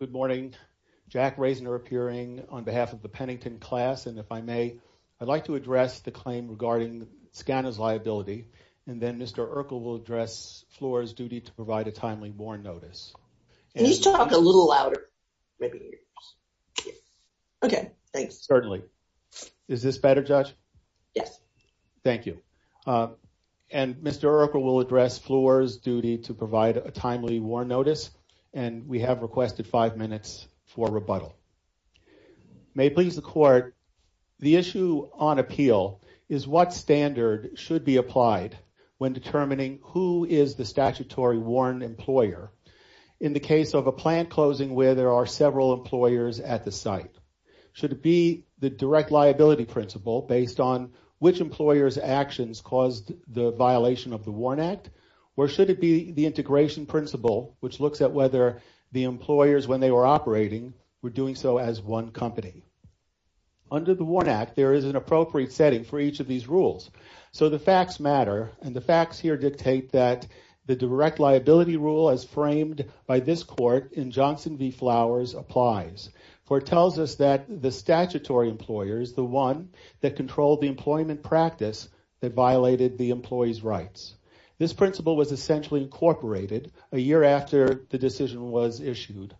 Good morning. Jack Reisner appearing on behalf of the Pennington class, and if I may, I'd like to address the claim regarding Scano's liability, and then Mr. Urkel will address Fluor's duty to provide a timely warrant notice. Can you talk a little louder? Maybe. Okay, thanks. Certainly. Is this better, Judge? Yes. Thank you. And Mr. Urkel will address Fluor's duty to provide a timely warrant notice, and we have requested five minutes for rebuttal. May it please the Court, the issue on appeal is what standard should be applied when determining who is the statutory warrant employer in the case of a plant closing where there are several employers at the site. Should it be the direct liability principle based on which employer's actions caused the violation of the WARN Act, or should it be the integration principle, which looks at whether the employers, when they were operating, were doing so as one company? Under the WARN Act, there is an appropriate setting for each of these rules, so the facts matter, and the facts here dictate that the direct liability rule as framed by this Court in Johnson v. Flowers applies, for it tells us that the statutory employer is the one that controlled the employment practice that violated the employee's rights. This principle was essentially incorporated a year after the decision was issued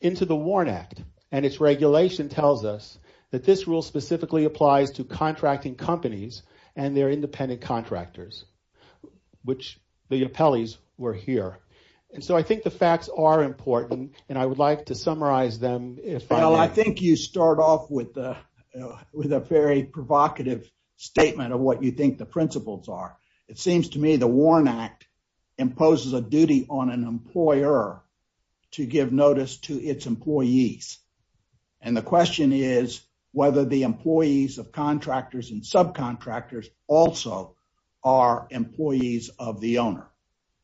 into the WARN Act, and its regulation tells us that this rule specifically applies to contracting companies and their independent contractors, which the appellees were here. And so I think the facts are important, and I would like to summarize them. Well, I think you start off with a very provocative statement of what you think the principles are. It seems to me the WARN Act imposes a duty on an employer to give notice to its employees, and the question is whether the employees of contractors and subcontractors also are employees of the owner.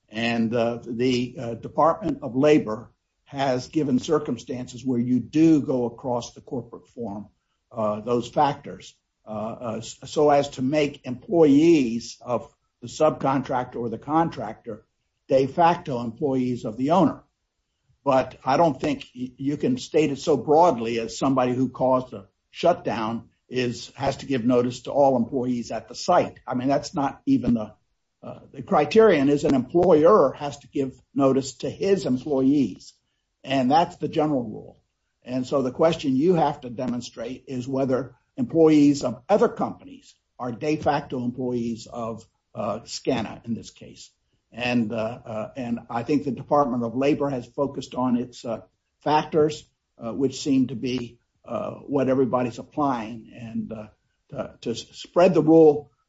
And the Department of Labor has given circumstances where you do go across the corporate form those factors, so as to make employees of the subcontractor or the contractor de facto employees of the owner. But I don't think you can state it so broadly as somebody who caused a shutdown has to give notice to all the employees at the site. I mean, that's not even the criterion, is an employer has to give notice to his employees, and that's the general rule. And so the question you have to demonstrate is whether employees of other companies are de facto employees of SCANA, in this case. And I think the Department of Labor has focused on its factors, which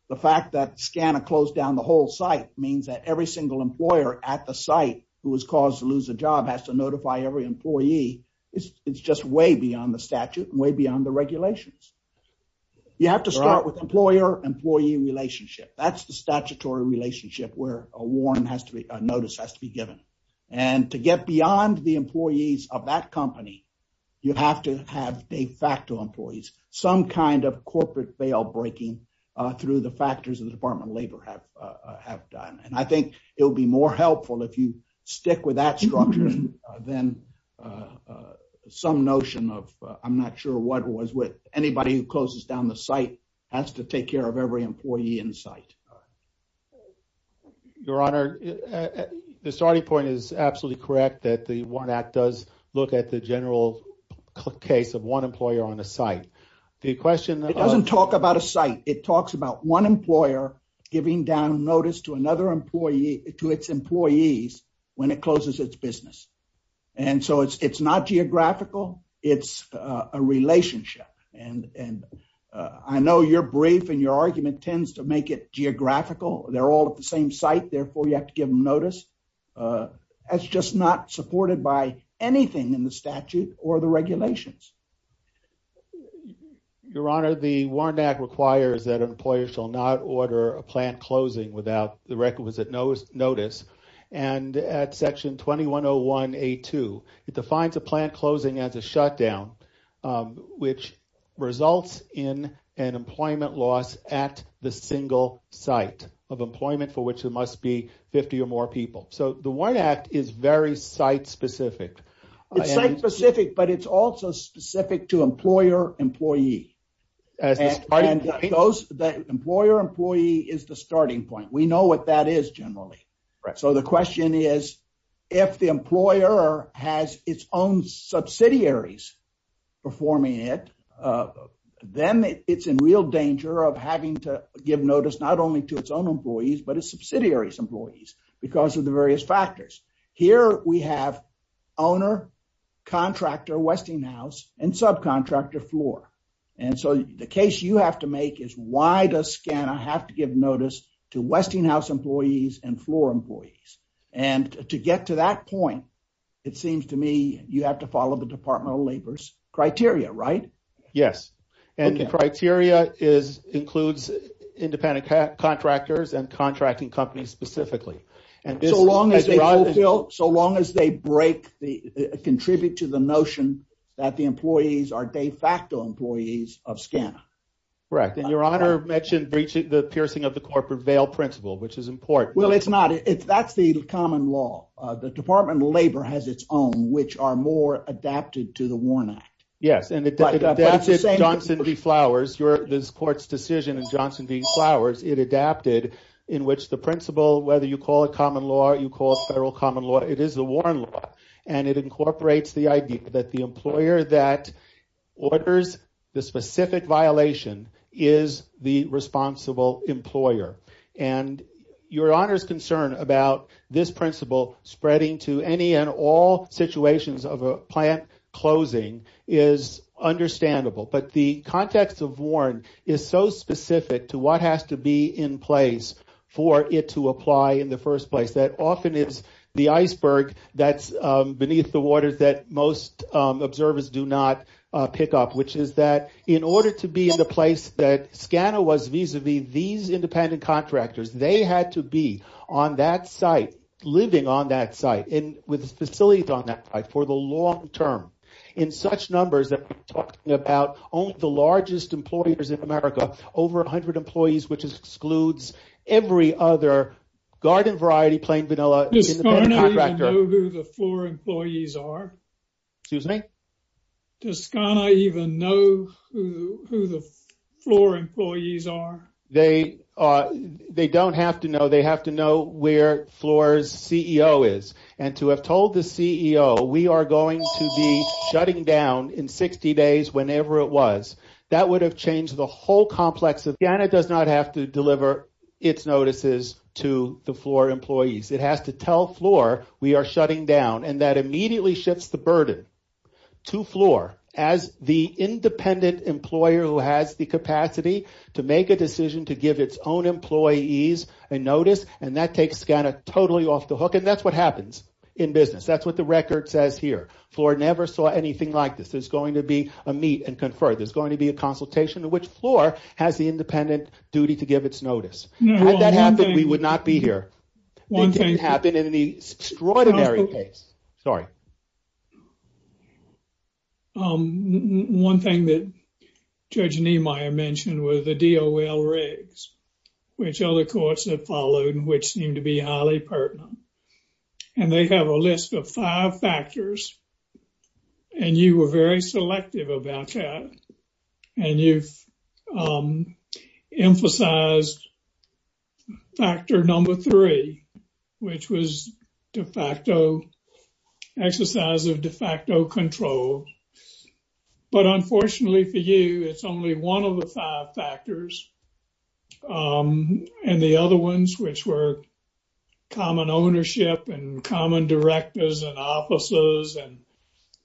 the fact that SCANA closed down the whole site means that every single employer at the site who was caused to lose a job has to notify every employee. It's just way beyond the statute, way beyond the regulations. You have to start with employer-employee relationship. That's the statutory relationship where a WARN notice has to be given. And to get beyond the employees of that company, you have to have de facto employees, some kind of corporate bail breaking through the factors of the Department of Labor have done. And I think it would be more helpful if you stick with that structure than some notion of, I'm not sure what it was with anybody who closes down the site has to take care of every employee in the site. Your Honor, the starting point is absolutely correct that the WARN Act does look at the talks about one employer giving down notice to its employees when it closes its business. And so it's not geographical, it's a relationship. And I know you're brief and your argument tends to make it geographical. They're all at the same site, therefore you have to give them notice. That's just not supported by anything in the statute or the regulations. Your Honor, the WARN Act requires that an employer shall not order a plant closing without the requisite notice. And at section 2101A2, it defines a plant closing as a shutdown, which results in an employment loss at the single site of employment for which there must be 50 or more people. So the WARN Act is very site-specific. It's site-specific, but it's also specific to employer-employee. Employer-employee is the starting point. We know what that is generally. So the question is, if the employer has its own subsidiaries performing it, then it's in real danger of having to give notice not only to its own employees, but its subsidiaries' employees because of the various factors. Here we have owner, contractor, Westinghouse, and subcontractor floor. And so the case you have to make is why does SCANA have to give notice to Westinghouse employees and floor employees? And to get to that point, it seems to me you have to follow the Department of Labor's criteria, right? Yes. And the criteria includes independent contractors and contracting companies specifically. And so long as they break, contribute to the notion that the employees are de facto employees of SCANA. Correct. And your honor mentioned the piercing of the corporate veil principle, which is important. Well, it's not. That's the common law. The Department of Labor has its own, which are more adapted to the WARN Act. Yes. And that's Johnson v. Flowers. This court's flowers, it adapted in which the principle, whether you call it common law, you call it federal common law, it is the WARN law. And it incorporates the idea that the employer that orders the specific violation is the responsible employer. And your honor's concern about this principle spreading to any and all situations of a plant closing is understandable. But the what has to be in place for it to apply in the first place that often is the iceberg that's beneath the waters that most observers do not pick up, which is that in order to be in the place that SCANA was vis-a-vis these independent contractors, they had to be on that site, living on that site and with facilities on that site for the long term in such numbers that we're talking about only the largest employers in America, over 100 employees, which excludes every other garden variety, plain vanilla. Does SCANA even know who the FLOOR employees are? Excuse me? Does SCANA even know who the FLOOR employees are? They don't have to know. They have to know where FLOOR's CEO is. And to have told the CEO, we are going to be shutting down in 60 days, whenever it was, that would have changed the whole complex. SCANA does not have to deliver its notices to the FLOOR employees. It has to tell FLOOR we are shutting down and that immediately shifts the burden to FLOOR as the independent employer who has the capacity to make a decision to give its own employees a notice. And that takes SCANA totally off the hook. And that's what happens in business. That's what the record says here. FLOOR never saw anything like this. There's going to be a meet and confer. There's going to be a consultation to which FLOOR has the independent duty to give its notice. Had that happened, we would not be here. It didn't happen in any extraordinary pace. Sorry. One thing that Judge Niemeyer mentioned was the DOL regs, which other courts have followed and seem to be highly pertinent. And they have a list of five factors. And you were very selective about that. And you've emphasized factor number three, which was de facto exercise of de facto control. But unfortunately for you, it's only one of the five factors. And the other ones, which were common ownership and common directors and offices and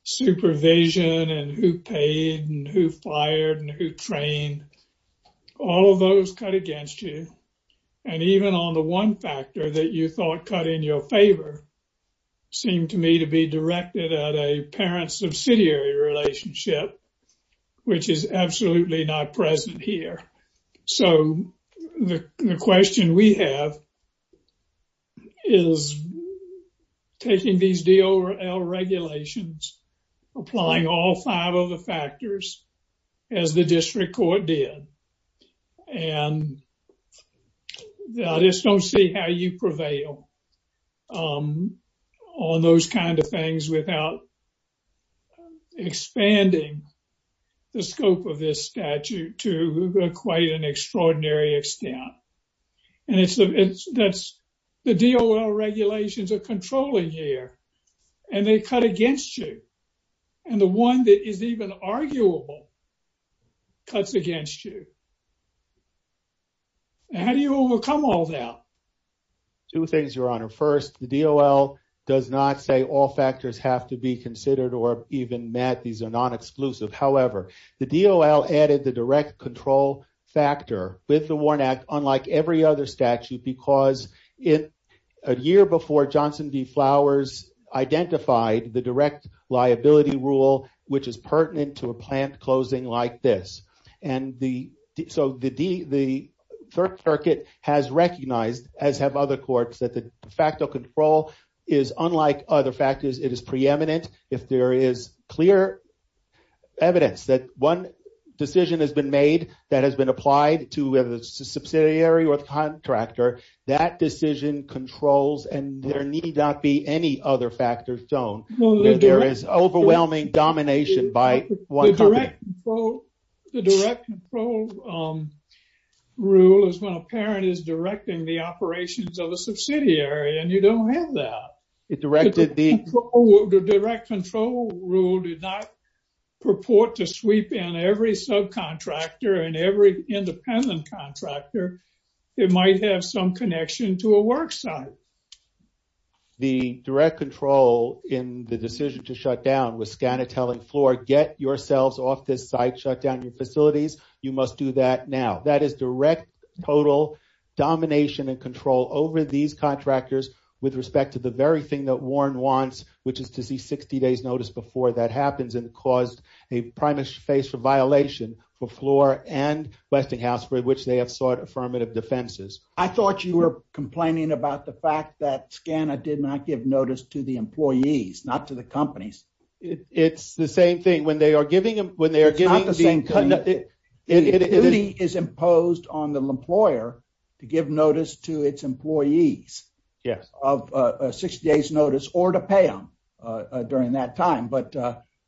supervision and who paid and who fired and who trained, all of those cut against you. And even on the one factor that you thought cut in your favor seemed to me to be directed at a parent-subsidiary relationship, which is what you have is taking these DOL regulations, applying all five of the factors as the district court did. And I just don't see how you prevail on those kind of things without expanding the scope of this statute to quite an extraordinary extent. And the DOL regulations are controlling here and they cut against you. And the one that is even arguable cuts against you. How do you overcome all that? Two things, Your Honor. First, the DOL does not say all factors have to be considered or even met. These are non-exclusive. However, the DOL added the direct control factor with the WARN Act, unlike every other statute, because a year before Johnson v. Flowers identified the direct liability rule, which is pertinent to a plant closing like this. And so the third circuit has recognized, as have other courts, that the de facto control is unlike other factors. It is preeminent. If there is clear evidence that one decision has been made that has been applied to whether it's a subsidiary or the contractor, that decision controls and there need not be any other factors shown. There is overwhelming domination by... The direct control rule is when a parent is directing the operations of a subsidiary and you don't have that. The direct control rule did not purport to sweep in every subcontractor and every independent contractor. It might have some connection to a work site. The direct control in the decision to shut down was scan a telling floor, get yourselves off this site, shut down your facilities. You must do that now. That is direct total domination and control over these contractors with respect to the very thing that Warren wants, which is to see 60 days notice before that happens and caused a primary phase for violation for floor and Westinghouse, for which they have sought affirmative defenses. I thought you were complaining about the fact that SCANA did not give notice to the employees, not to the companies. It's the same thing when they are giving... The duty is imposed on the employer to give notice to its employees of 60 days notice or to pay them during that time, but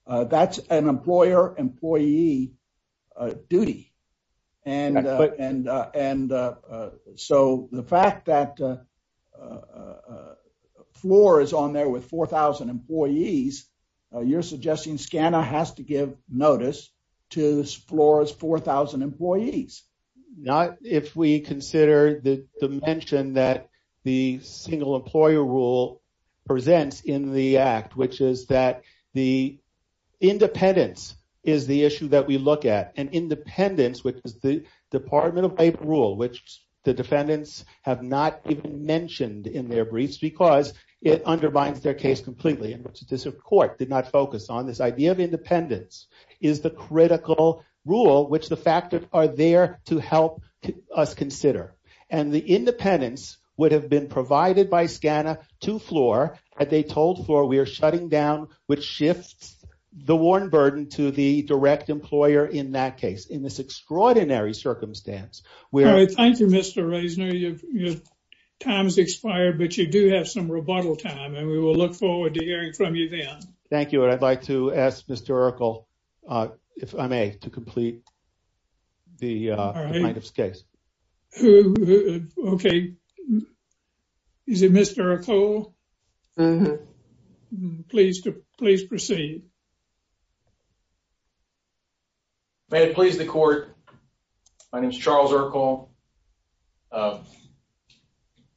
that's an employer employee duty. The fact that a floor is on there with 4,000 employees, you're suggesting SCANA has to give notice to floor's 4,000 employees. Not if we consider the dimension that the single employer rule presents in the act, which is that the independence is the issue that we look at and in their briefs, because it undermines their case completely, and which the court did not focus on. This idea of independence is the critical rule, which the fact that are there to help us consider. The independence would have been provided by SCANA to floor, but they told floor we are shutting down, which shifts the Warren burden to the direct employer in that case. In this extraordinary circumstance... Thank you, Mr. Reisner. Your time has expired, but you do have some rebuttal time, and we will look forward to hearing from you then. Thank you. I'd like to ask Mr. Urkel, if I may, to complete the plaintiff's case. Okay. Is it Mr. Urkel? Please proceed. May it please the court. My name is Charles Urkel.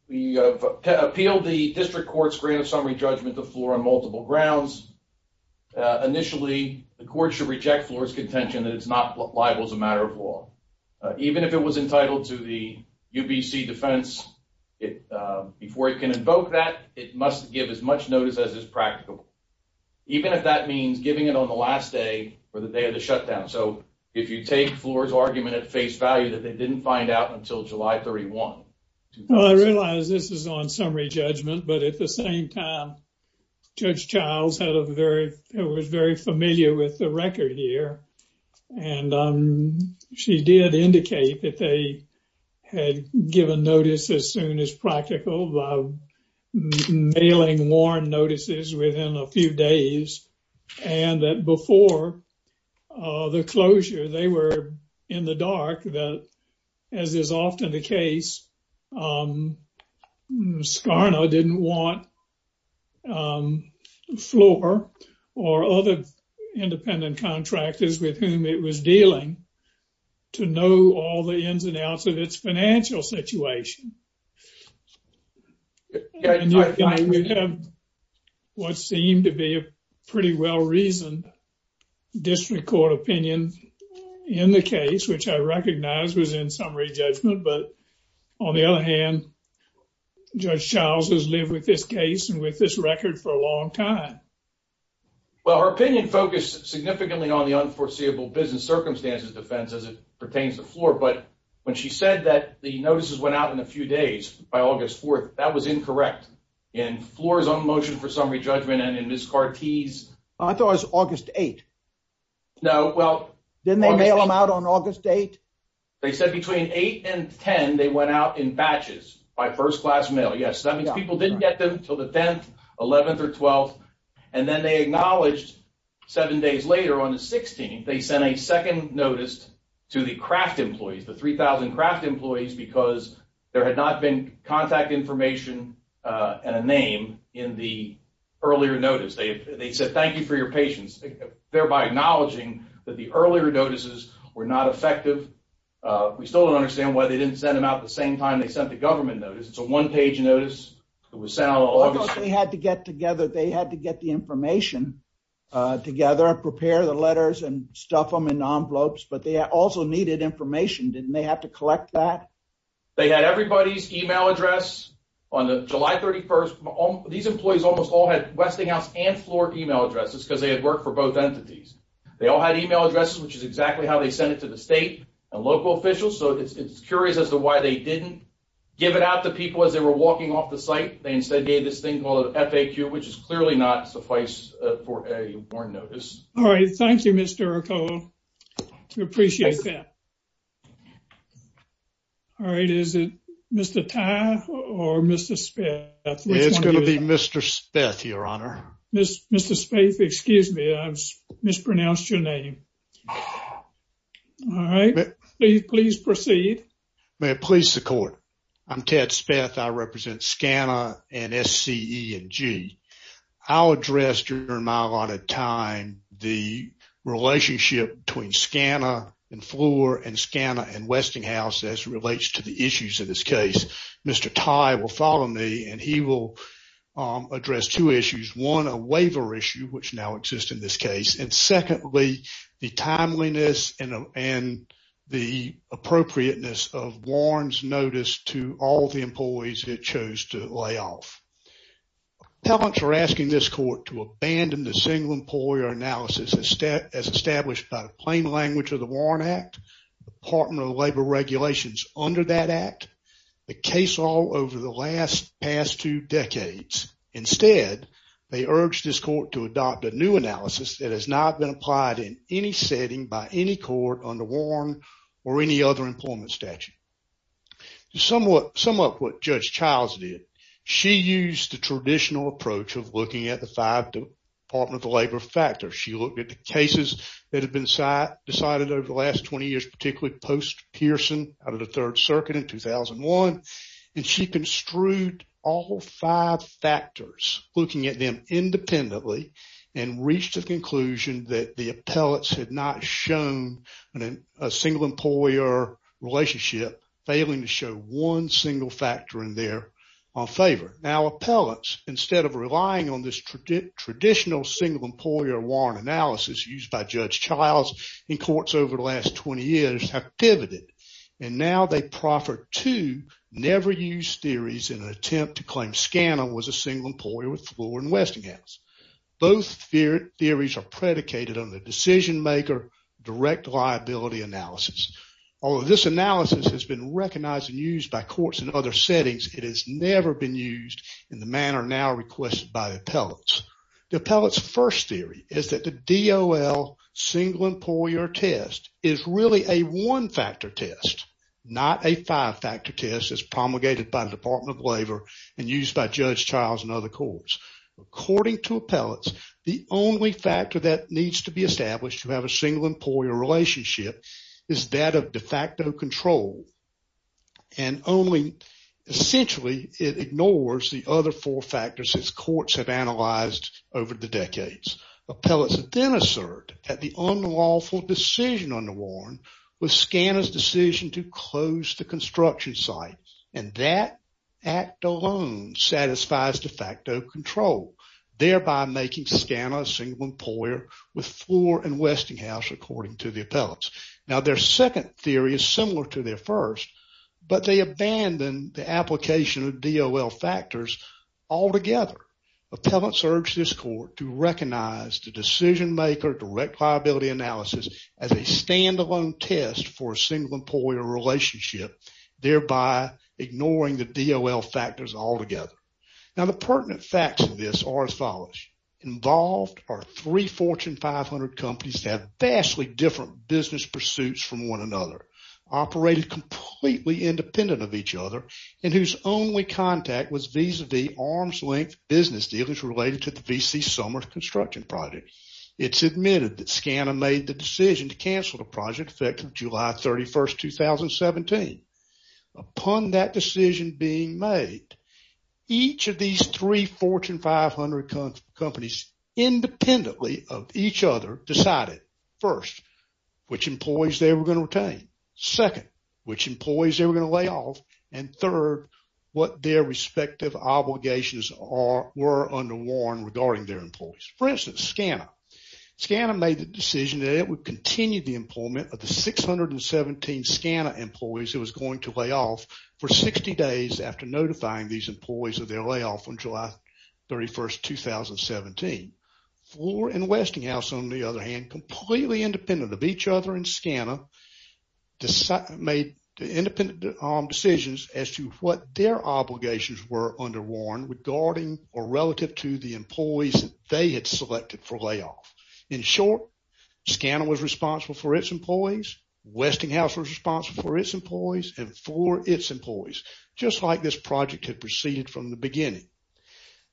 We have appealed the district court's grant of summary judgment to floor on multiple grounds. Initially, the court should reject floor's contention that it's not liable as a matter of law. Even if it was entitled to the UBC defense, before it can invoke that, it must give as much notice as is practicable. Even if that means giving it on the last day for the day of the shutdown. If you take floor's argument at face value that they didn't find out until July 31, 2000... I realize this is on summary judgment, but at the same time, Judge Childs was very familiar with the record here, and she did indicate that they had given notice as soon as practical by mailing Warren notices within a few days, and that before the closure, they were in the dark that, as is often the case, Skarna didn't want floor or other independent contractors with whom it was dealing to know all the ins and outs of its financial situation. We have what seemed to be a pretty well-reasoned district court opinion in the case, which I recognized was in summary judgment, but on the other hand, Judge Childs has lived with this case and with this record for a long time. Well, her opinion focused significantly on the unforeseeable business circumstances defense as it pertains to floor, but when she said that the notices went out in a few days, by August 4th, that was incorrect. In floor's own motion for summary judgment and in Ms. Carty's... I thought it was August 8th. No, well... Didn't they mail them out on August 8th? They said between 8 and 10, they went out in batches by first-class mail. Yes, that means people didn't get them until the 10th, 11th, or 12th, and then they acknowledged seven days later on the 16th, they sent a second notice to the Kraft employees, the 3,000 Kraft employees, because there had not been contact information and a name in the earlier notice. They said, thank you for your patience, thereby acknowledging that the earlier notices were not effective. We still don't understand why they didn't send them out the same time they sent the government notice. It's a one-page notice. It was sent out on August... They had to get together. They had to get the information together and prepare the letters and stuff them in envelopes, but they also needed information. Didn't they have to collect that? They had everybody's email address on July 31st. These employees almost all had Westinghouse and Florida email addresses because they had worked for both entities. They all had email addresses, which is exactly how they sent it to the state and local officials, so it's curious as to why they didn't give it out to people as they were walking off the site. They instead gave this thing called a FAQ, which is clearly not suffice for a warrant notice. All right. Thank you, Mr. Ercole. We appreciate that. All right. Is it Mr. Tye or Mr. Speth? It's going to be Mr. Speth, Your Honor. Mr. Speth, excuse me. I mispronounced your name. All right. Please proceed. May it please the court. I'm Ted Speth. I represent SCANA and SCE&G. I'll address during my allotted time the relationship between SCANA and Fleur and SCANA and Westinghouse as it relates to the issues in this case. Mr. Tye will follow me and he will address two issues. One, a waiver issue, which now exists in this case, and secondly, the timeliness and the appropriateness of warrants notice to all the employees it chose to lay off. Appellants are asking this court to abandon the single employer analysis as established by the plain language of the Warrant Act, the Department of Labor regulations under that act, the case law over the last past two decades. Instead, they urge this court to adopt a new analysis that has not been applied in any setting by any court under Warren or any other employment statute. To sum up what Judge Childs did, she used the traditional approach of looking at the five Department of Labor factors. She looked at the cases that have been decided over the last 20 years, particularly post-Pearson out of the Third Circuit in 2001, and she construed all five factors, looking at them independently and reached the conclusion that the appellants had not shown a single employer relationship, failing to show one single factor in there on favor. Now, appellants, instead of relying on this traditional single employer warrant analysis used by Judge Childs in courts over the last 20 years, have pivoted, and now they proffer two never-used theories in an attempt to claim was a single employer with Flora and Westinghouse. Both theories are predicated on the decision-maker direct liability analysis. Although this analysis has been recognized and used by courts in other settings, it has never been used in the manner now requested by the appellants. The appellant's first theory is that the DOL single employer test is really a one-factor test, not a five-factor test as promulgated by the Department of Labor and used by Judge Childs and other courts. According to appellants, the only factor that needs to be established to have a single employer relationship is that of de facto control, and only, essentially, it ignores the other four factors as courts have analyzed over the decades. Appellants then assert that the unlawful decision was Scanna's decision to close the construction site, and that act alone satisfies de facto control, thereby making Scanna a single employer with Flora and Westinghouse, according to the appellants. Now, their second theory is similar to their first, but they abandon the application of DOL factors altogether. Appellants urge this court to recognize the decision-maker direct analysis as a standalone test for a single employer relationship, thereby ignoring the DOL factors altogether. Now, the pertinent facts of this are as follows. Involved are three Fortune 500 companies that have vastly different business pursuits from one another, operated completely independent of each other, and whose only contact was vis-a-vis arms-length business dealers related to the V.C. Summers construction project. It's admitted that Scanna made the decision to cancel the project effective July 31, 2017. Upon that decision being made, each of these three Fortune 500 companies, independently of each other, decided, first, which employees they were going to retain, second, which employees they were going to lay off, and third, what their respective obligations were underworn regarding their employees. For instance, Scanna. Scanna made the decision that it would continue the employment of the 617 Scanna employees it was going to lay off for 60 days after notifying these employees of their layoff on July 31, 2017. Flora and Westinghouse, on the other hand, completely independent of each other and Scanna, made independent decisions as to what their obligations were underworn regarding or relative to the employees they had selected for layoff. In short, Scanna was responsible for its employees, Westinghouse was responsible for its employees, and Flora its employees, just like this project had proceeded from the beginning.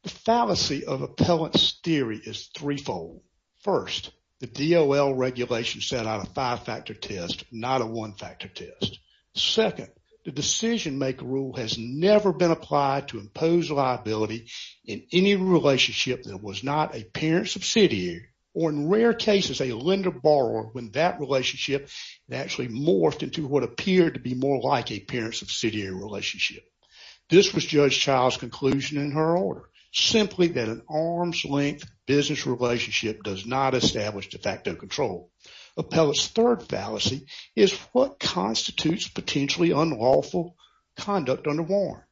The fallacy of appellant's theory is threefold. First, the DOL regulation set out a five-factor test, not a one-factor test. Second, the decision maker rule has never been applied to impose liability in any relationship that was not a parent-subsidiary or, in rare cases, a lender-borrower when that relationship actually morphed into what appeared to be more like a parent-subsidiary relationship. This was Judge Child's conclusion in her order, simply that an arm's-length business relationship does not establish de facto control. Appellant's third fallacy is what constitutes potentially unlawful conduct under Warren.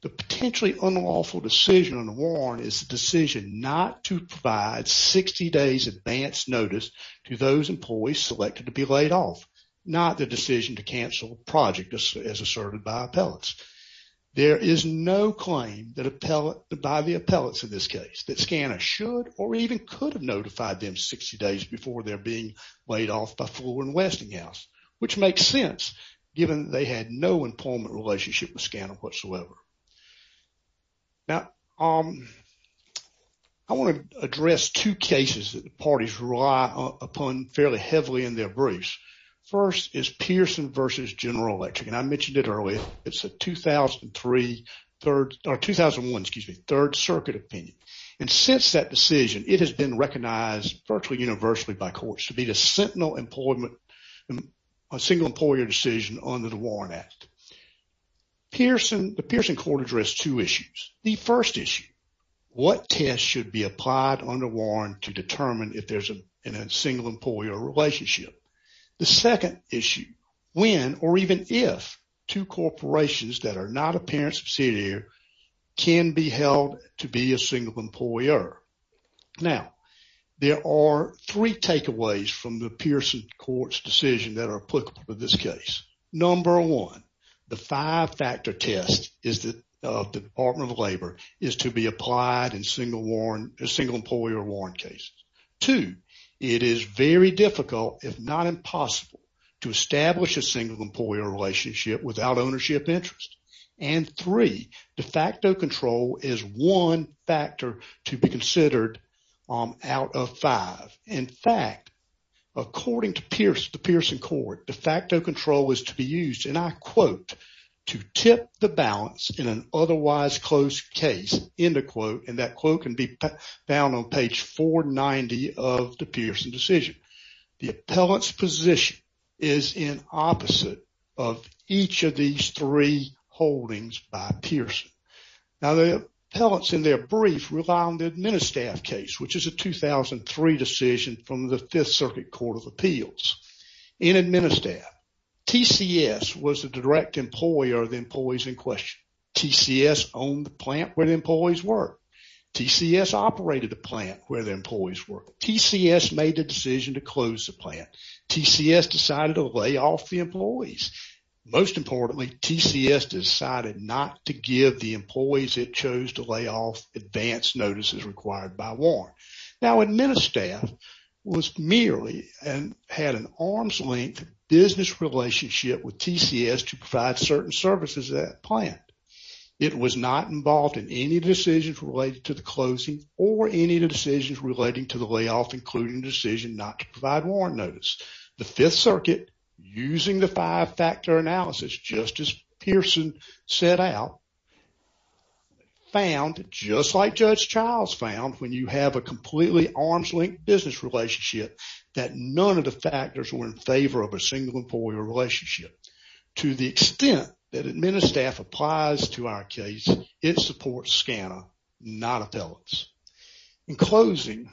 The potentially unlawful decision under Warren is the decision not to provide 60 days advanced notice to those employees selected to be laid off, not the decision to cancel a project as by the appellants in this case, that SCANA should or even could have notified them 60 days before they're being laid off by Flora and Westinghouse, which makes sense given they had no employment relationship with SCANA whatsoever. Now, I want to address two cases that the parties rely upon fairly heavily in their briefs. First is Pearson versus General Electric, and I mentioned it earlier, it's a 2003, or 2001, excuse me, Third Circuit opinion. And since that decision, it has been recognized virtually universally by courts to be the sentinel employment, a single employer decision under the Warren Act. The Pearson court addressed two issues. The first issue, what test should be applied under Warren to determine if there's a single employer relationship? The second issue, when or even if two corporations that are not a parent-subsidiary can be held to be a single employer? Now, there are three takeaways from the Pearson court's decision that are applicable to this case. Number one, the five-factor test of the Department of Labor is to be applied in a single employer Warren case. Two, it is very difficult if not impossible to establish a single employer relationship without ownership interest. And three, de facto control is one factor to be considered out of five. In fact, according to the Pearson court, de facto control was to be used, and I quote, to tip the balance in an otherwise closed case, end of quote, and that quote can be found on page 490 of the Pearson decision. The appellant's position is in opposite of each of these three holdings by Pearson. Now, the appellants in their brief rely on the Administaff case, which is a 2003 decision from the Fifth Circuit Court of Appeals. In Administaff, TCS was the direct employer of the employees in question. TCS owned the plant where the employees were. TCS operated the plant where the employees were. TCS made the decision to close the plant. TCS decided to lay off the employees. Most importantly, TCS decided not to give the employees it chose to lay off advance notices required by Warren. Now, Administaff was merely and had an arm's length business relationship with TCS to provide certain services at the plant. It was not involved in any decisions related to the closing or any of the decisions relating to the layoff, including the decision not to provide Warren notice. The Fifth Circuit, using the five factor analysis, just as Pearson set out, found, just like Judge Childs found, when you have a completely arm's length business relationship, that none of the factors were in favor of a single employer relationship. To the extent that Administaff applies to our case, it supports SCANA, not appellants. In closing,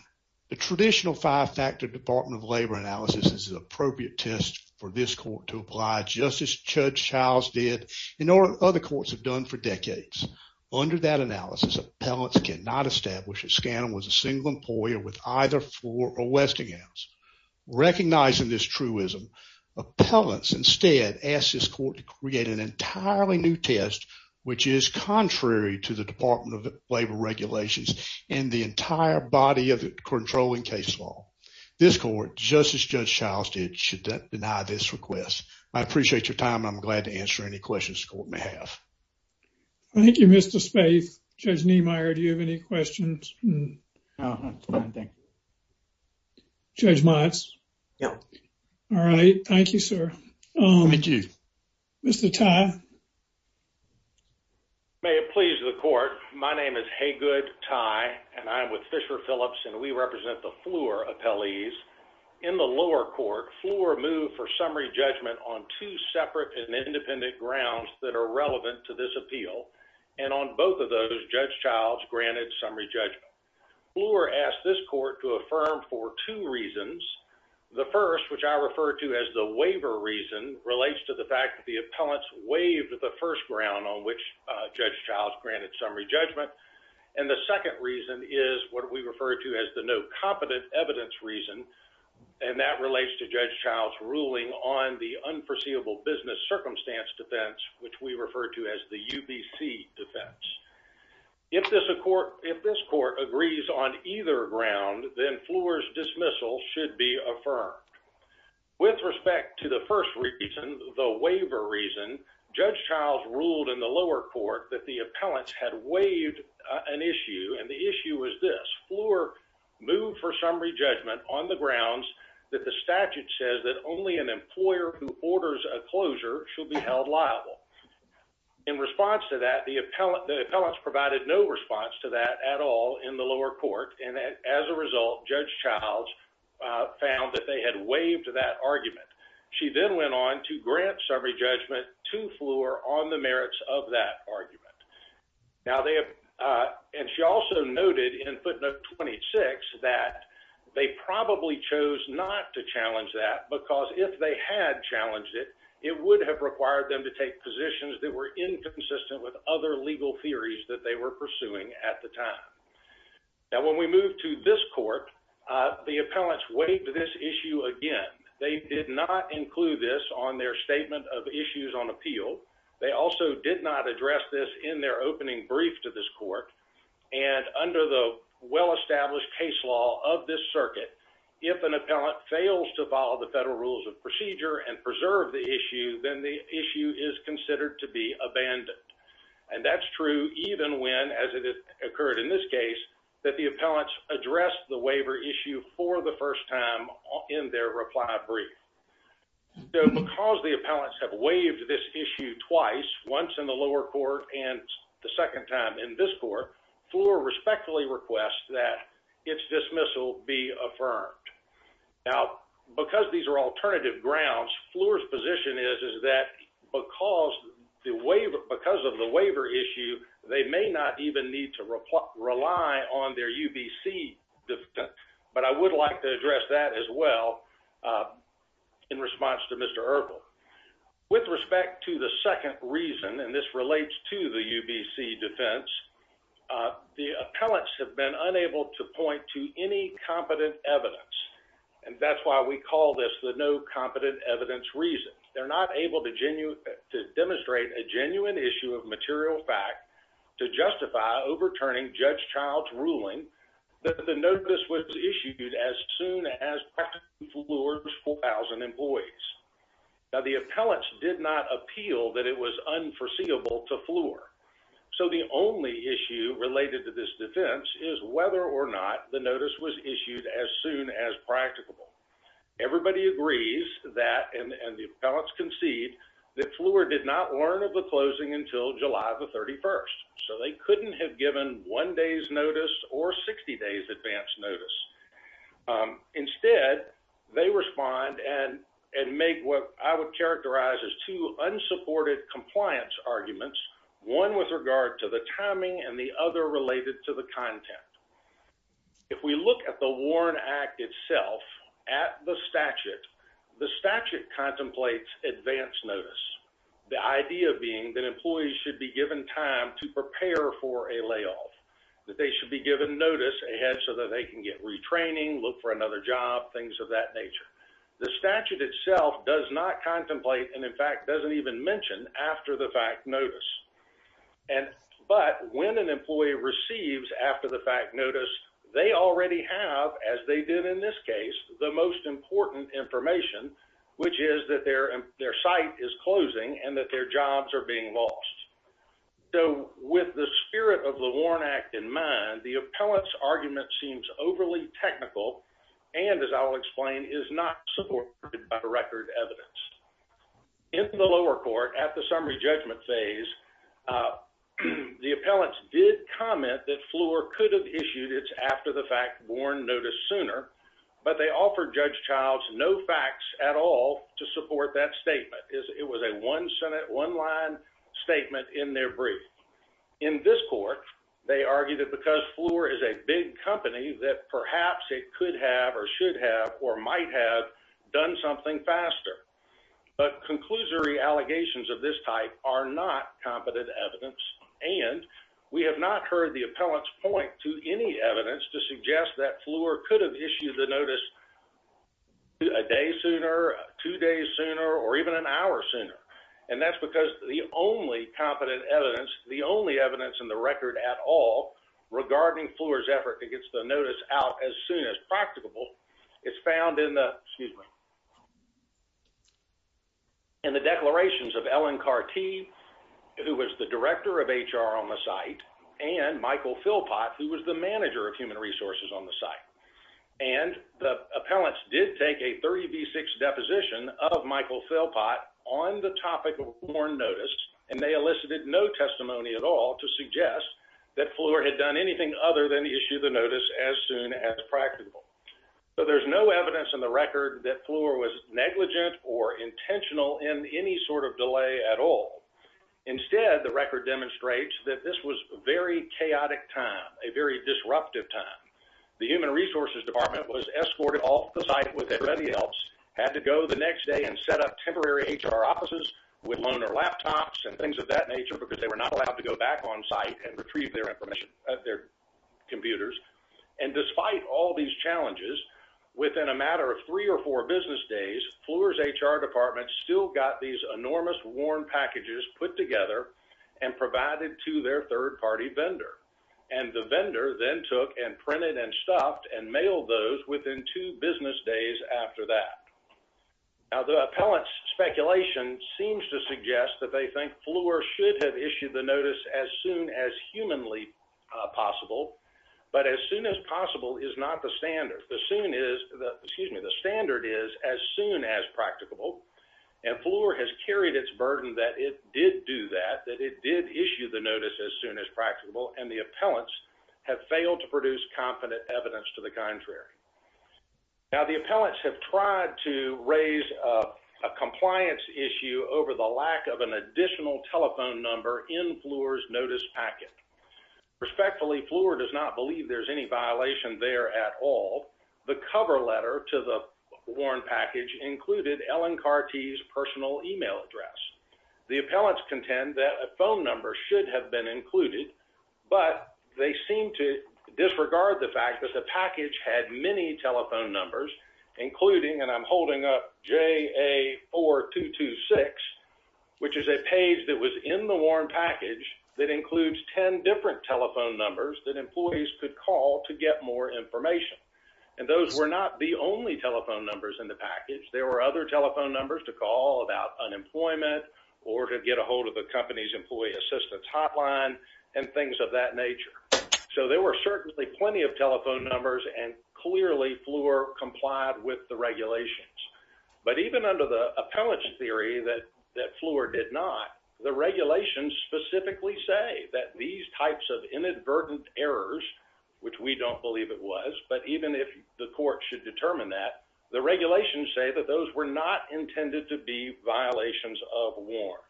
the traditional five factor Department of Labor analysis is an appropriate test for this court to apply, just as Judge Childs did and other courts have done for decades. Under that analysis, appellants cannot establish that SCANA was a single employer with either floor or Westinghouse. Recognizing this truism, appellants instead asked this court to create an entirely new test, which is contrary to the Department of Labor regulations and the entire body of controlling case law. This court, just as Judge Childs did, should deny this request. I appreciate your time and I'm glad to answer any questions the court may have. Thank you, Mr. Spaeth. Judge Niemeyer, do you have any questions? No, that's fine, thank you. Judge Motz? No. All right, thank you, sir. Mr. Tye? May it please the court, my name is Haygood Tye and I'm with Fisher Phillips and we represent the Fleur appellees. In the lower court, Fleur moved for summary judgment on two separate and independent grounds that are relevant to this appeal and on both of those, Judge Childs granted summary judgment. Fleur asked this court to affirm for two reasons. The first, which I refer to as the waiver reason, relates to the fact that the appellants waived the first ground on which Judge Childs granted summary judgment. And the second reason is what we refer to as the competent evidence reason and that relates to Judge Childs ruling on the unforeseeable business circumstance defense, which we refer to as the UBC defense. If this court agrees on either ground, then Fleur's dismissal should be affirmed. With respect to the first reason, the waiver reason, Judge Childs ruled in the lower court that the appellants had waived an issue and the issue was Fleur moved for summary judgment on the grounds that the statute says that only an employer who orders a closure should be held liable. In response to that, the appellants provided no response to that at all in the lower court and as a result, Judge Childs found that they had waived that argument. She then went on to grant summary judgment to Fleur on the merits of that 26 that they probably chose not to challenge that because if they had challenged it, it would have required them to take positions that were inconsistent with other legal theories that they were pursuing at the time. Now when we move to this court, the appellants waived this issue again. They did not include this on their statement of issues on appeal. They also did not address this in their opening brief to this court and under the well-established case law of this circuit, if an appellant fails to follow the federal rules of procedure and preserve the issue, then the issue is considered to be abandoned and that's true even when, as it has occurred in this case, that the appellants addressed the waiver issue for the first time in their reply brief. So because the appellants have waived this issue twice, once in the lower court and the second time in this court, Fleur respectfully requests that its dismissal be affirmed. Now because these are alternative grounds, Fleur's position is that because of the waiver issue, they may not even need to rely on their UBC defense, but I would like to address that as well in response to Mr. Urkel. With respect to the second reason, and this relates to the UBC defense, the appellants have been unable to point to any competent evidence and that's why we call this the no competent evidence reason. They're not able to demonstrate a genuine issue of material fact to justify overturning Judge Child's ruling that the notice was issued as soon as practicing Fleur's 4,000 employees. Now the appellants did not appeal that it was unforeseeable to Fleur, so the only issue related to this defense is whether or not the notice was issued as soon as practicable. Everybody agrees that, and the appellants concede, that Fleur did not learn of closing until July the 31st, so they couldn't have given one day's notice or 60 days' advance notice. Instead, they respond and make what I would characterize as two unsupported compliance arguments, one with regard to the timing and the other related to the content. If we look at the advance notice, the idea being that employees should be given time to prepare for a layoff, that they should be given notice ahead so that they can get retraining, look for another job, things of that nature. The statute itself does not contemplate and in fact doesn't even mention after the fact notice, but when an employee receives after the fact notice, they already have, as they did in this case, the most important information, which is that their site is closing and that their jobs are being lost. So with the spirit of the Warren Act in mind, the appellant's argument seems overly technical and, as I'll explain, is not supported by record evidence. In the lower court, at the summary judgment phase, the appellants did comment that Fleur could have issued its after the fact warrant notice sooner, but they offered Judge Childs no facts at all to support that statement. It was a one-sentence, one-line statement in their brief. In this court, they argued that because Fleur is a big company, that perhaps it could have or should have or might have done something faster. But conclusory allegations of this type are not competent evidence and we have not heard the appellant's point to any evidence to suggest that Fleur could have issued the notice a day sooner, two days sooner, or even an hour sooner. And that's because the only competent evidence, the only evidence in the record at all regarding Fleur's effort to get the notice out as soon as practicable, is found in the, excuse me, in the declarations of Ellen Carty, who was the director of HR on the site, and Michael Philpott, who was the manager of human resources on the site. And the appellants did take a 30 v 6 deposition of Michael Philpott on the topic of warrant notice and they elicited no testimony at all to suggest that Fleur had done anything other than issue the notice as soon as practicable. So there's no evidence in the record that Fleur was negligent or intentional in any sort of delay at all. Instead, the record demonstrates that this was a very chaotic time, a very disruptive time. The human resources department was escorted off the site with everybody else, had to go the next day and set up temporary HR offices with loaner laptops and things of that nature because they were not allowed to go back on site and retrieve their information, their computers. And despite all of these challenges, within a matter of three or four business days, Fleur's HR department still got these enormous warrant packages put together and provided to their third-party vendor. And the vendor then took and printed and stuffed and mailed those within two business days after that. Now, the appellant's speculation seems to suggest that they think Fleur should have issued the notice as soon as practicable. And Fleur has carried its burden that it did do that, that it did issue the notice as soon as practicable, and the appellants have failed to produce confident evidence to the contrary. Now, the appellants have tried to raise a compliance issue over the lack of an additional telephone number in Fleur's notice packet. Respectfully, Fleur does not believe there's any violation there at all. The cover letter to the warrant package included Ellen Carty's personal email address. The appellants contend that a phone number should have been included, but they seem to disregard the fact that the package had many telephone numbers, including, and I'm holding up JA4226, which is a page that was in the warrant package that includes 10 different telephone numbers that employees could call to get more information. And those were not the only telephone numbers in the package. There were other telephone numbers to call about unemployment or to get a hold of the company's employee assistance hotline and things of that nature. So there were certainly plenty of telephone numbers, and clearly Fleur complied with the regulations. But even under the appellant's theory that Fleur did not, the regulations specifically say that these types of inadvertent errors, which we don't believe it was, but even if the court should determine that, the regulations say that those were not intended to be violations of warrant.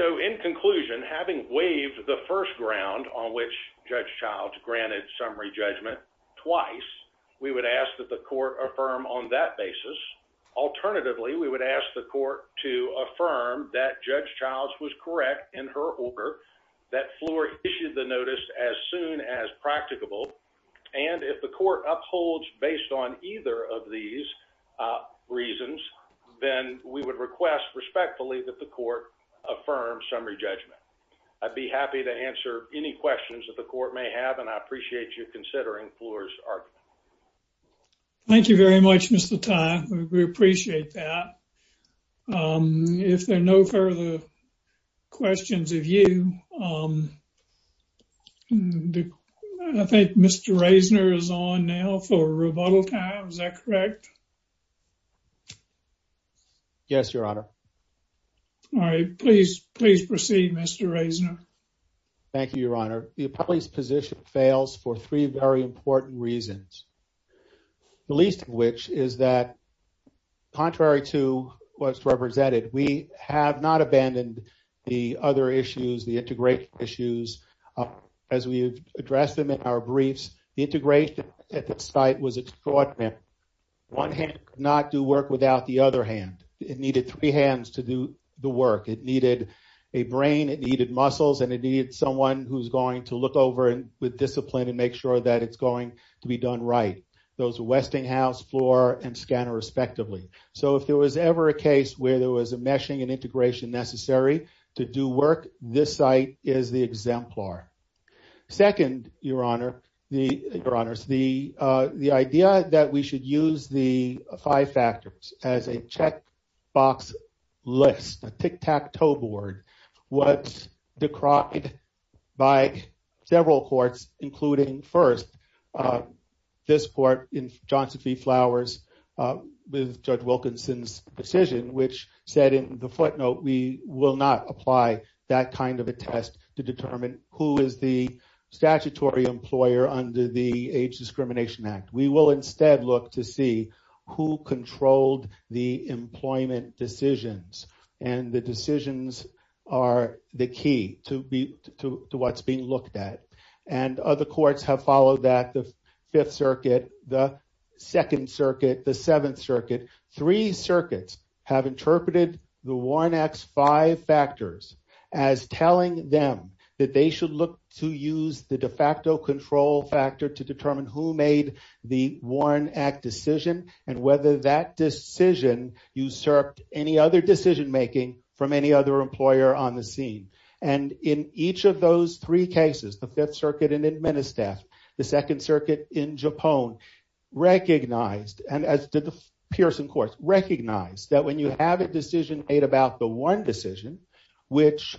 So in conclusion, having waived the first ground on which Judge Childs granted summary judgment twice, we would ask that the court affirm on that basis. Alternatively, we would ask the court to affirm that Judge Childs was correct in her order that Fleur issued the notice as soon as practicable. And if the court upholds based on either of these reasons, then we would request respectfully that the court affirm summary judgment. I'd be happy to answer any questions that the court may have, and I appreciate you considering Fleur's argument. Thank you very much, Mr. Tye. We appreciate that. If there are no further questions of you, I think Mr. Reisner is on now for rebuttal time. Is that correct? Yes, Your Honor. All right. Please proceed, Mr. Reisner. Thank you, Your Honor. The appellee's position fails for three very important reasons. The least of which is that contrary to what's represented, we have not abandoned the other issues, the integration issues, as we addressed them in our briefs. The integration at the site was extraordinary. One hand could not do work without the other hand. It needed three hands to do the work. It needed a brain, it needed muscles, and it needed someone who's going to with discipline and make sure that it's going to be done right. Those Westinghouse, Fleur, and Skanner respectively. So if there was ever a case where there was a meshing and integration necessary to do work, this site is the exemplar. Second, Your Honor, the idea that we should use five factors as a checkbox list, a tic-tac-toe board, was decried by several courts, including first this court in Johnson v. Flowers with Judge Wilkinson's decision, which said in the footnote, we will not apply that kind of a test to determine who is the statutory employer under the Age who controlled the employment decisions. The decisions are the key to what's being looked at. Other courts have followed that, the Fifth Circuit, the Second Circuit, the Seventh Circuit. Three circuits have interpreted the Warren Act's five factors as telling them that they should use the de facto control factor to determine who made the Warren Act decision and whether that decision usurped any other decision-making from any other employer on the scene. In each of those three cases, the Fifth Circuit in Edmundestaff, the Second Circuit in Japone, recognized, and as did the Pearson courts, recognized that when you have a decision made about the one decision which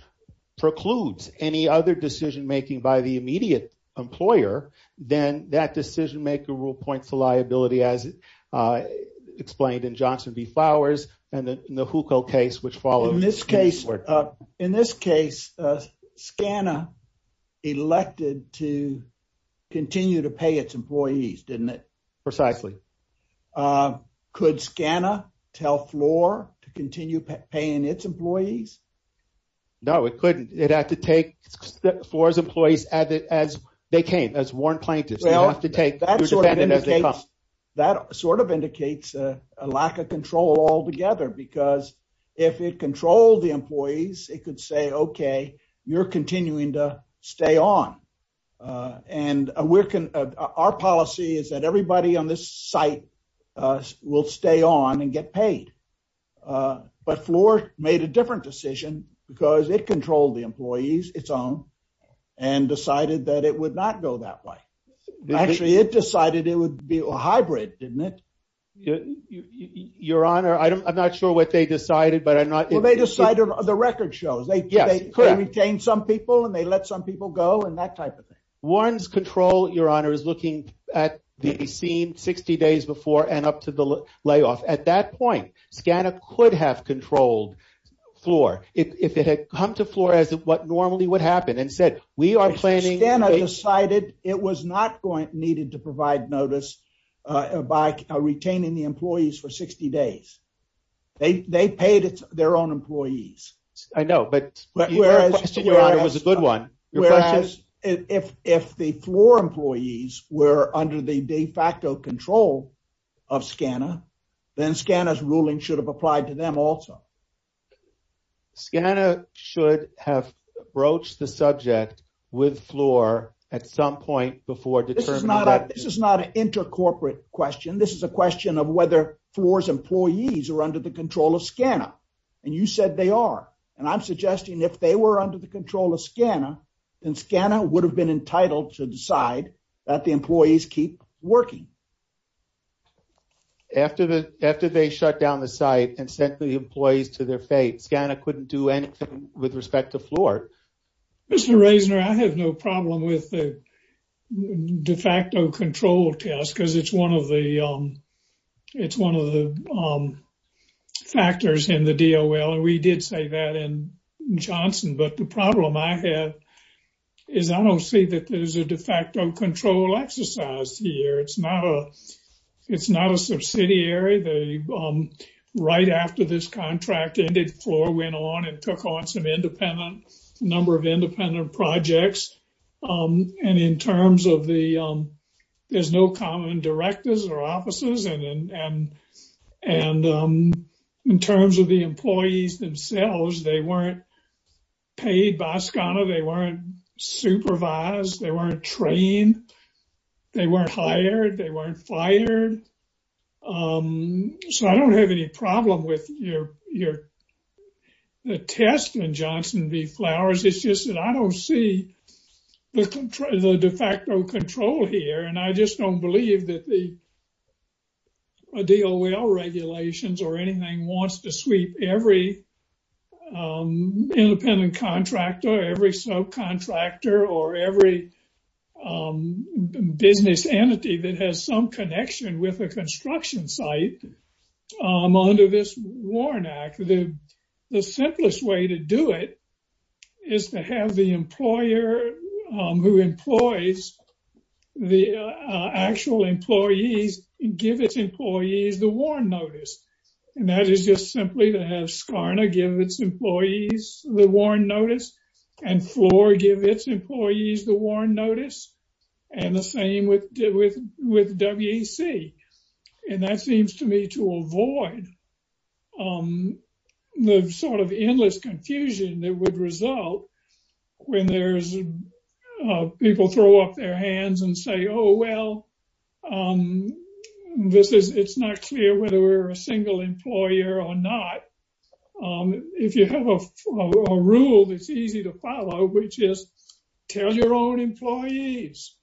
precludes any other decision-making by the immediate employer, then that decision-maker rule points to liability, as explained in Johnson v. Flowers and in the Huco case, which follows. In this case, SCANA elected to continue to pay its employees, didn't it? Precisely. Could SCANA tell Floor to continue paying its employees? No, it couldn't. It had to take Floor's employees as they came, as Warren plaintiffs. That sort of indicates a lack of control altogether because if it controlled the employees, it could say, okay, you're continuing to stay on. And our policy is that everybody on this site will stay on and get paid. But Floor made a different decision because it controlled the employees, its own, and decided that it would not go that way. Actually, it decided it would be a hybrid, didn't it? Your Honor, I'm not sure what they decided, but I'm not- Well, they decided the record shows. They could retain some people and they let some people go and that type of thing. Warren's control, Your Honor, is looking at the scene 60 days before and up to the layoff. At that point, SCANA could have controlled Floor. If it had come to Floor as what normally would happen and said, we are planning- SCANA decided it was not needed to provide notice by retaining the employees for 60 days. They paid their own employees. I know, but your question, Your Honor, was a good one. If the Floor employees were under the de facto control of SCANA, then SCANA's ruling should have applied to them also. SCANA should have broached the subject with Floor at some point before determining that- This is not an inter-corporate question. This is a question of whether Floor's employees are under the control of SCANA. And you said they are. And I'm suggesting if they were under the control of SCANA, SCANA would have been entitled to decide that the employees keep working. After they shut down the site and sent the employees to their fate, SCANA couldn't do anything with respect to Floor. Mr. Reisner, I have no problem with the de facto control test because it's one of the factors in the DOL. And we did say that in Wisconsin. But the problem I have is I don't see that there's a de facto control exercise here. It's not a subsidiary. Right after this contract ended, Floor went on and took on some independent number of independent projects. And in terms of the- there's no common directors or offices. And in terms of the employees themselves, they weren't paid by SCANA. They weren't supervised. They weren't trained. They weren't hired. They weren't fired. So I don't have any problem with your- the test and Johnson v. Flowers. It's just that I don't see the de facto control here. And I just don't believe that the DOL regulations or anything wants to sweep every independent contractor, every soap contractor, or every business entity that has some connection with a construction site under this Warren Act. The simplest way to do it is to have the employer who employs the actual employees give its employees the warrant notice. And that is just simply to have SCANA give its employees the warrant notice and Floor give its employees the warrant notice. And the same with WEC. And that seems to me to avoid the sort of endless confusion that would result when there's- people throw up their hands and say, oh, well, this is- it's not clear whether we're a single employer or not. If you have a rule that's easy to follow, which is tell your own employees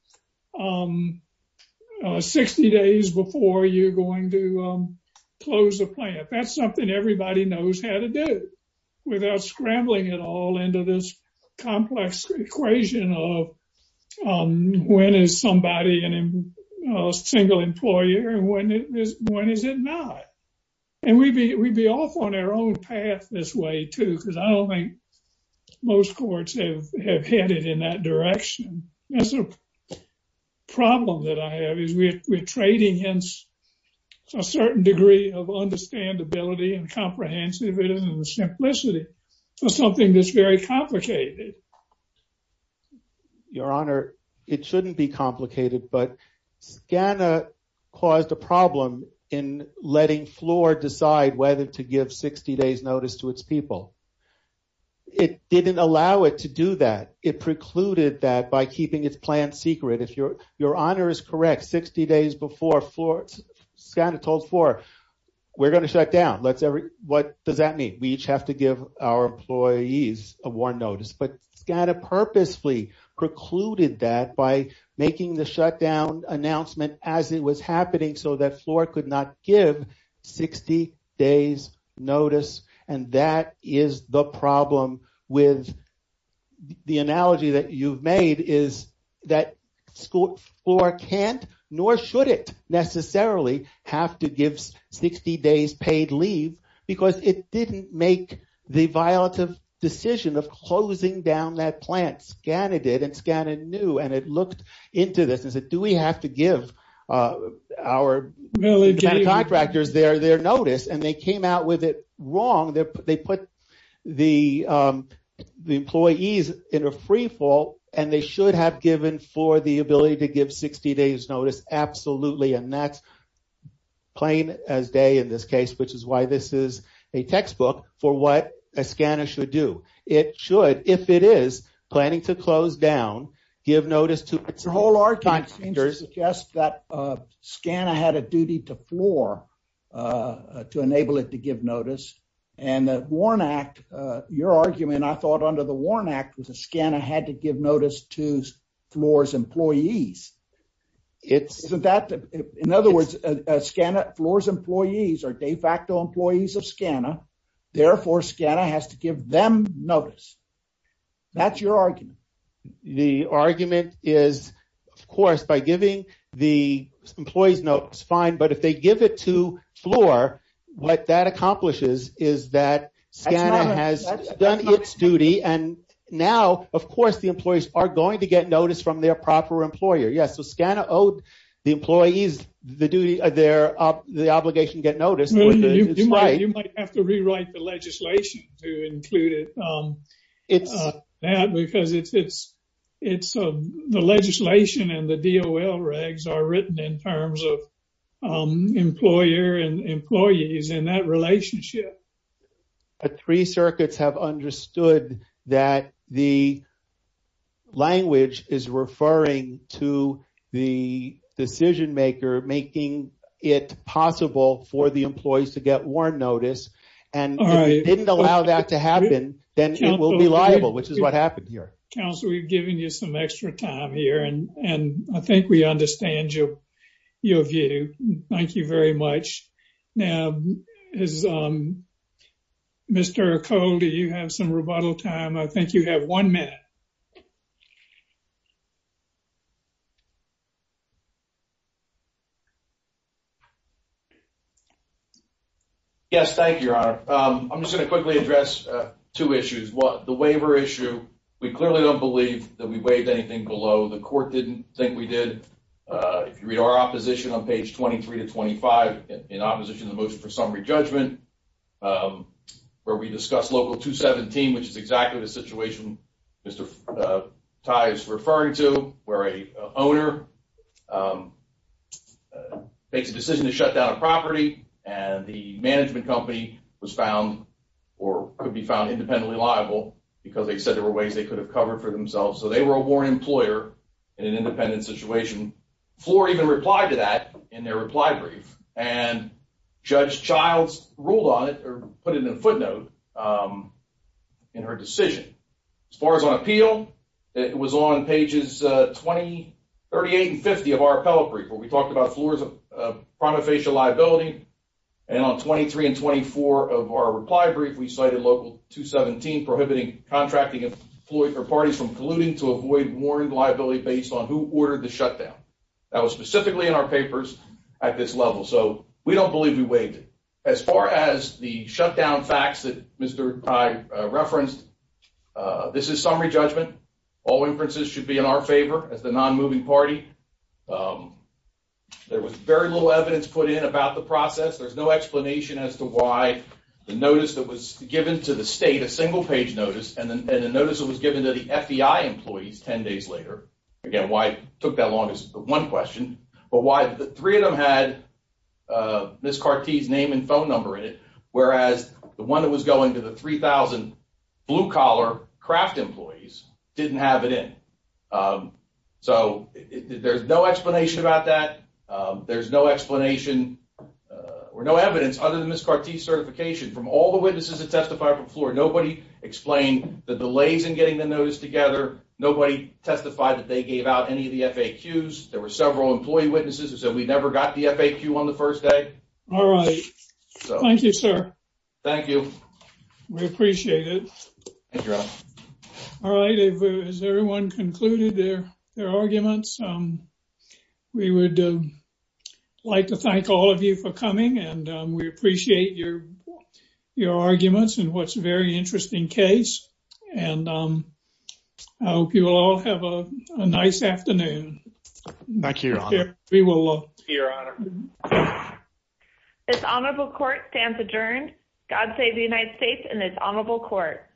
60 days before you're going to close the plant. That's something everybody knows how to do without scrambling it all into this complex equation of when is somebody a single employer and when is it not? And we'd be off on our own path this way, too, because I don't think most courts have headed in that direction. That's a problem that I have is we're trading a certain degree of understandability and comprehensiveness and simplicity for something that's very complicated. Your Honor, it shouldn't be complicated, but SCANA caused a problem in letting Floor decide whether to give 60 days notice to its people. It didn't allow it to do that. It precluded that by keeping its plant secret. If Your Honor is correct, 60 days before, SCANA told Floor, we're going to shut down. What does that mean? We each have to give our employees a warrant notice. But SCANA purposefully precluded that by making the shutdown announcement as it was happening so that Floor could not give 60 days notice. And that is the problem with the analogy that you've made is that Floor can't, nor should it necessarily, have to give 60 days paid leave because it didn't make the violative decision of closing down that plant. SCANA did and SCANA knew and it looked into this and said, do we have to give our contractors their notice? And they came out with it wrong. They put the employees in a free fall and they should have given Floor the ability to give 60 days notice. Absolutely. And that's plain as day in this case, which is why this is a textbook for what a SCANA should do. It should, if it is planning to close down, give notice to contractors. The whole argument seems to suggest that SCANA had a duty to Floor to enable it to give notice. And the Warrant Act, your argument, I thought under the Warrant Act, was that SCANA had to give notice to Floor's employees. In other words, Floor's employees are de facto employees of SCANA. Therefore, SCANA has to give them notice. That's your argument. The argument is, of course, by giving the employees notes, fine, if they give it to Floor, what that accomplishes is that SCANA has done its duty. And now, of course, the employees are going to get notice from their proper employer. Yes, so SCANA owed the employees the duty, the obligation to get notice. You might have to rewrite the legislation to include that, because the legislation and the DOL regs are written in terms of employer and employees in that relationship. Three circuits have understood that the language is referring to the decision maker making it possible for the employees to get notice. If you allow that to happen, then it will be liable, which is what happened here. Counsel, we've given you some extra time here, and I think we understand your view. Thank you very much. Now, Mr. Cole, do you have some rebuttal time? I think you have one minute. Yes, thank you, Your Honor. I'm just going to quickly address two issues. The waiver issue, we clearly don't believe that we waived anything below. The court didn't think we did. If you read our opposition on page 23 to 25, in opposition to the motion for summary judgment, where we tie it to referring to where an owner makes a decision to shut down a property, and the management company was found or could be found independently liable because they said there were ways they could have covered for themselves. So they were a warrant employer in an independent situation. Floor even replied to that in their reply brief, and Judge Childs ruled on it or in her decision. As far as on appeal, it was on pages 28 and 50 of our appellate brief, where we talked about floors of prima facie liability. And on 23 and 24 of our reply brief, we cited Local 217, prohibiting contracting parties from colluding to avoid warrant liability based on who ordered the shutdown. That was specifically in our papers at this level. So we don't believe we waived it. As far as the shutdown facts that Mr. Tai referenced, this is summary judgment. All inferences should be in our favor as the non-moving party. There was very little evidence put in about the process. There's no explanation as to why the notice that was given to the state, a single-page notice, and the notice that was given to the FDI employees 10 days later, again, why it took that long is one question, but why the three of them had Ms. Carty's name and phone number in it, whereas the one that was going to the 3,000 blue-collar Kraft employees didn't have it in. So there's no explanation about that. There's no explanation or no evidence other than Ms. Carty's certification. From all the witnesses that testified before, nobody explained the delays in getting the notice together. Nobody testified that they gave out any of the FAQs. There were several employee witnesses who said we never got the FAQ on the first day. All right. Thank you, sir. Thank you. We appreciate it. All right. Has everyone concluded their arguments? We would like to thank all of you for coming, and we appreciate your arguments and what's a very interesting case. And I hope you all have a nice afternoon. Thank you, Your Honor. We will. Thank you, Your Honor. This honorable court stands adjourned. God save the United States and this honorable court.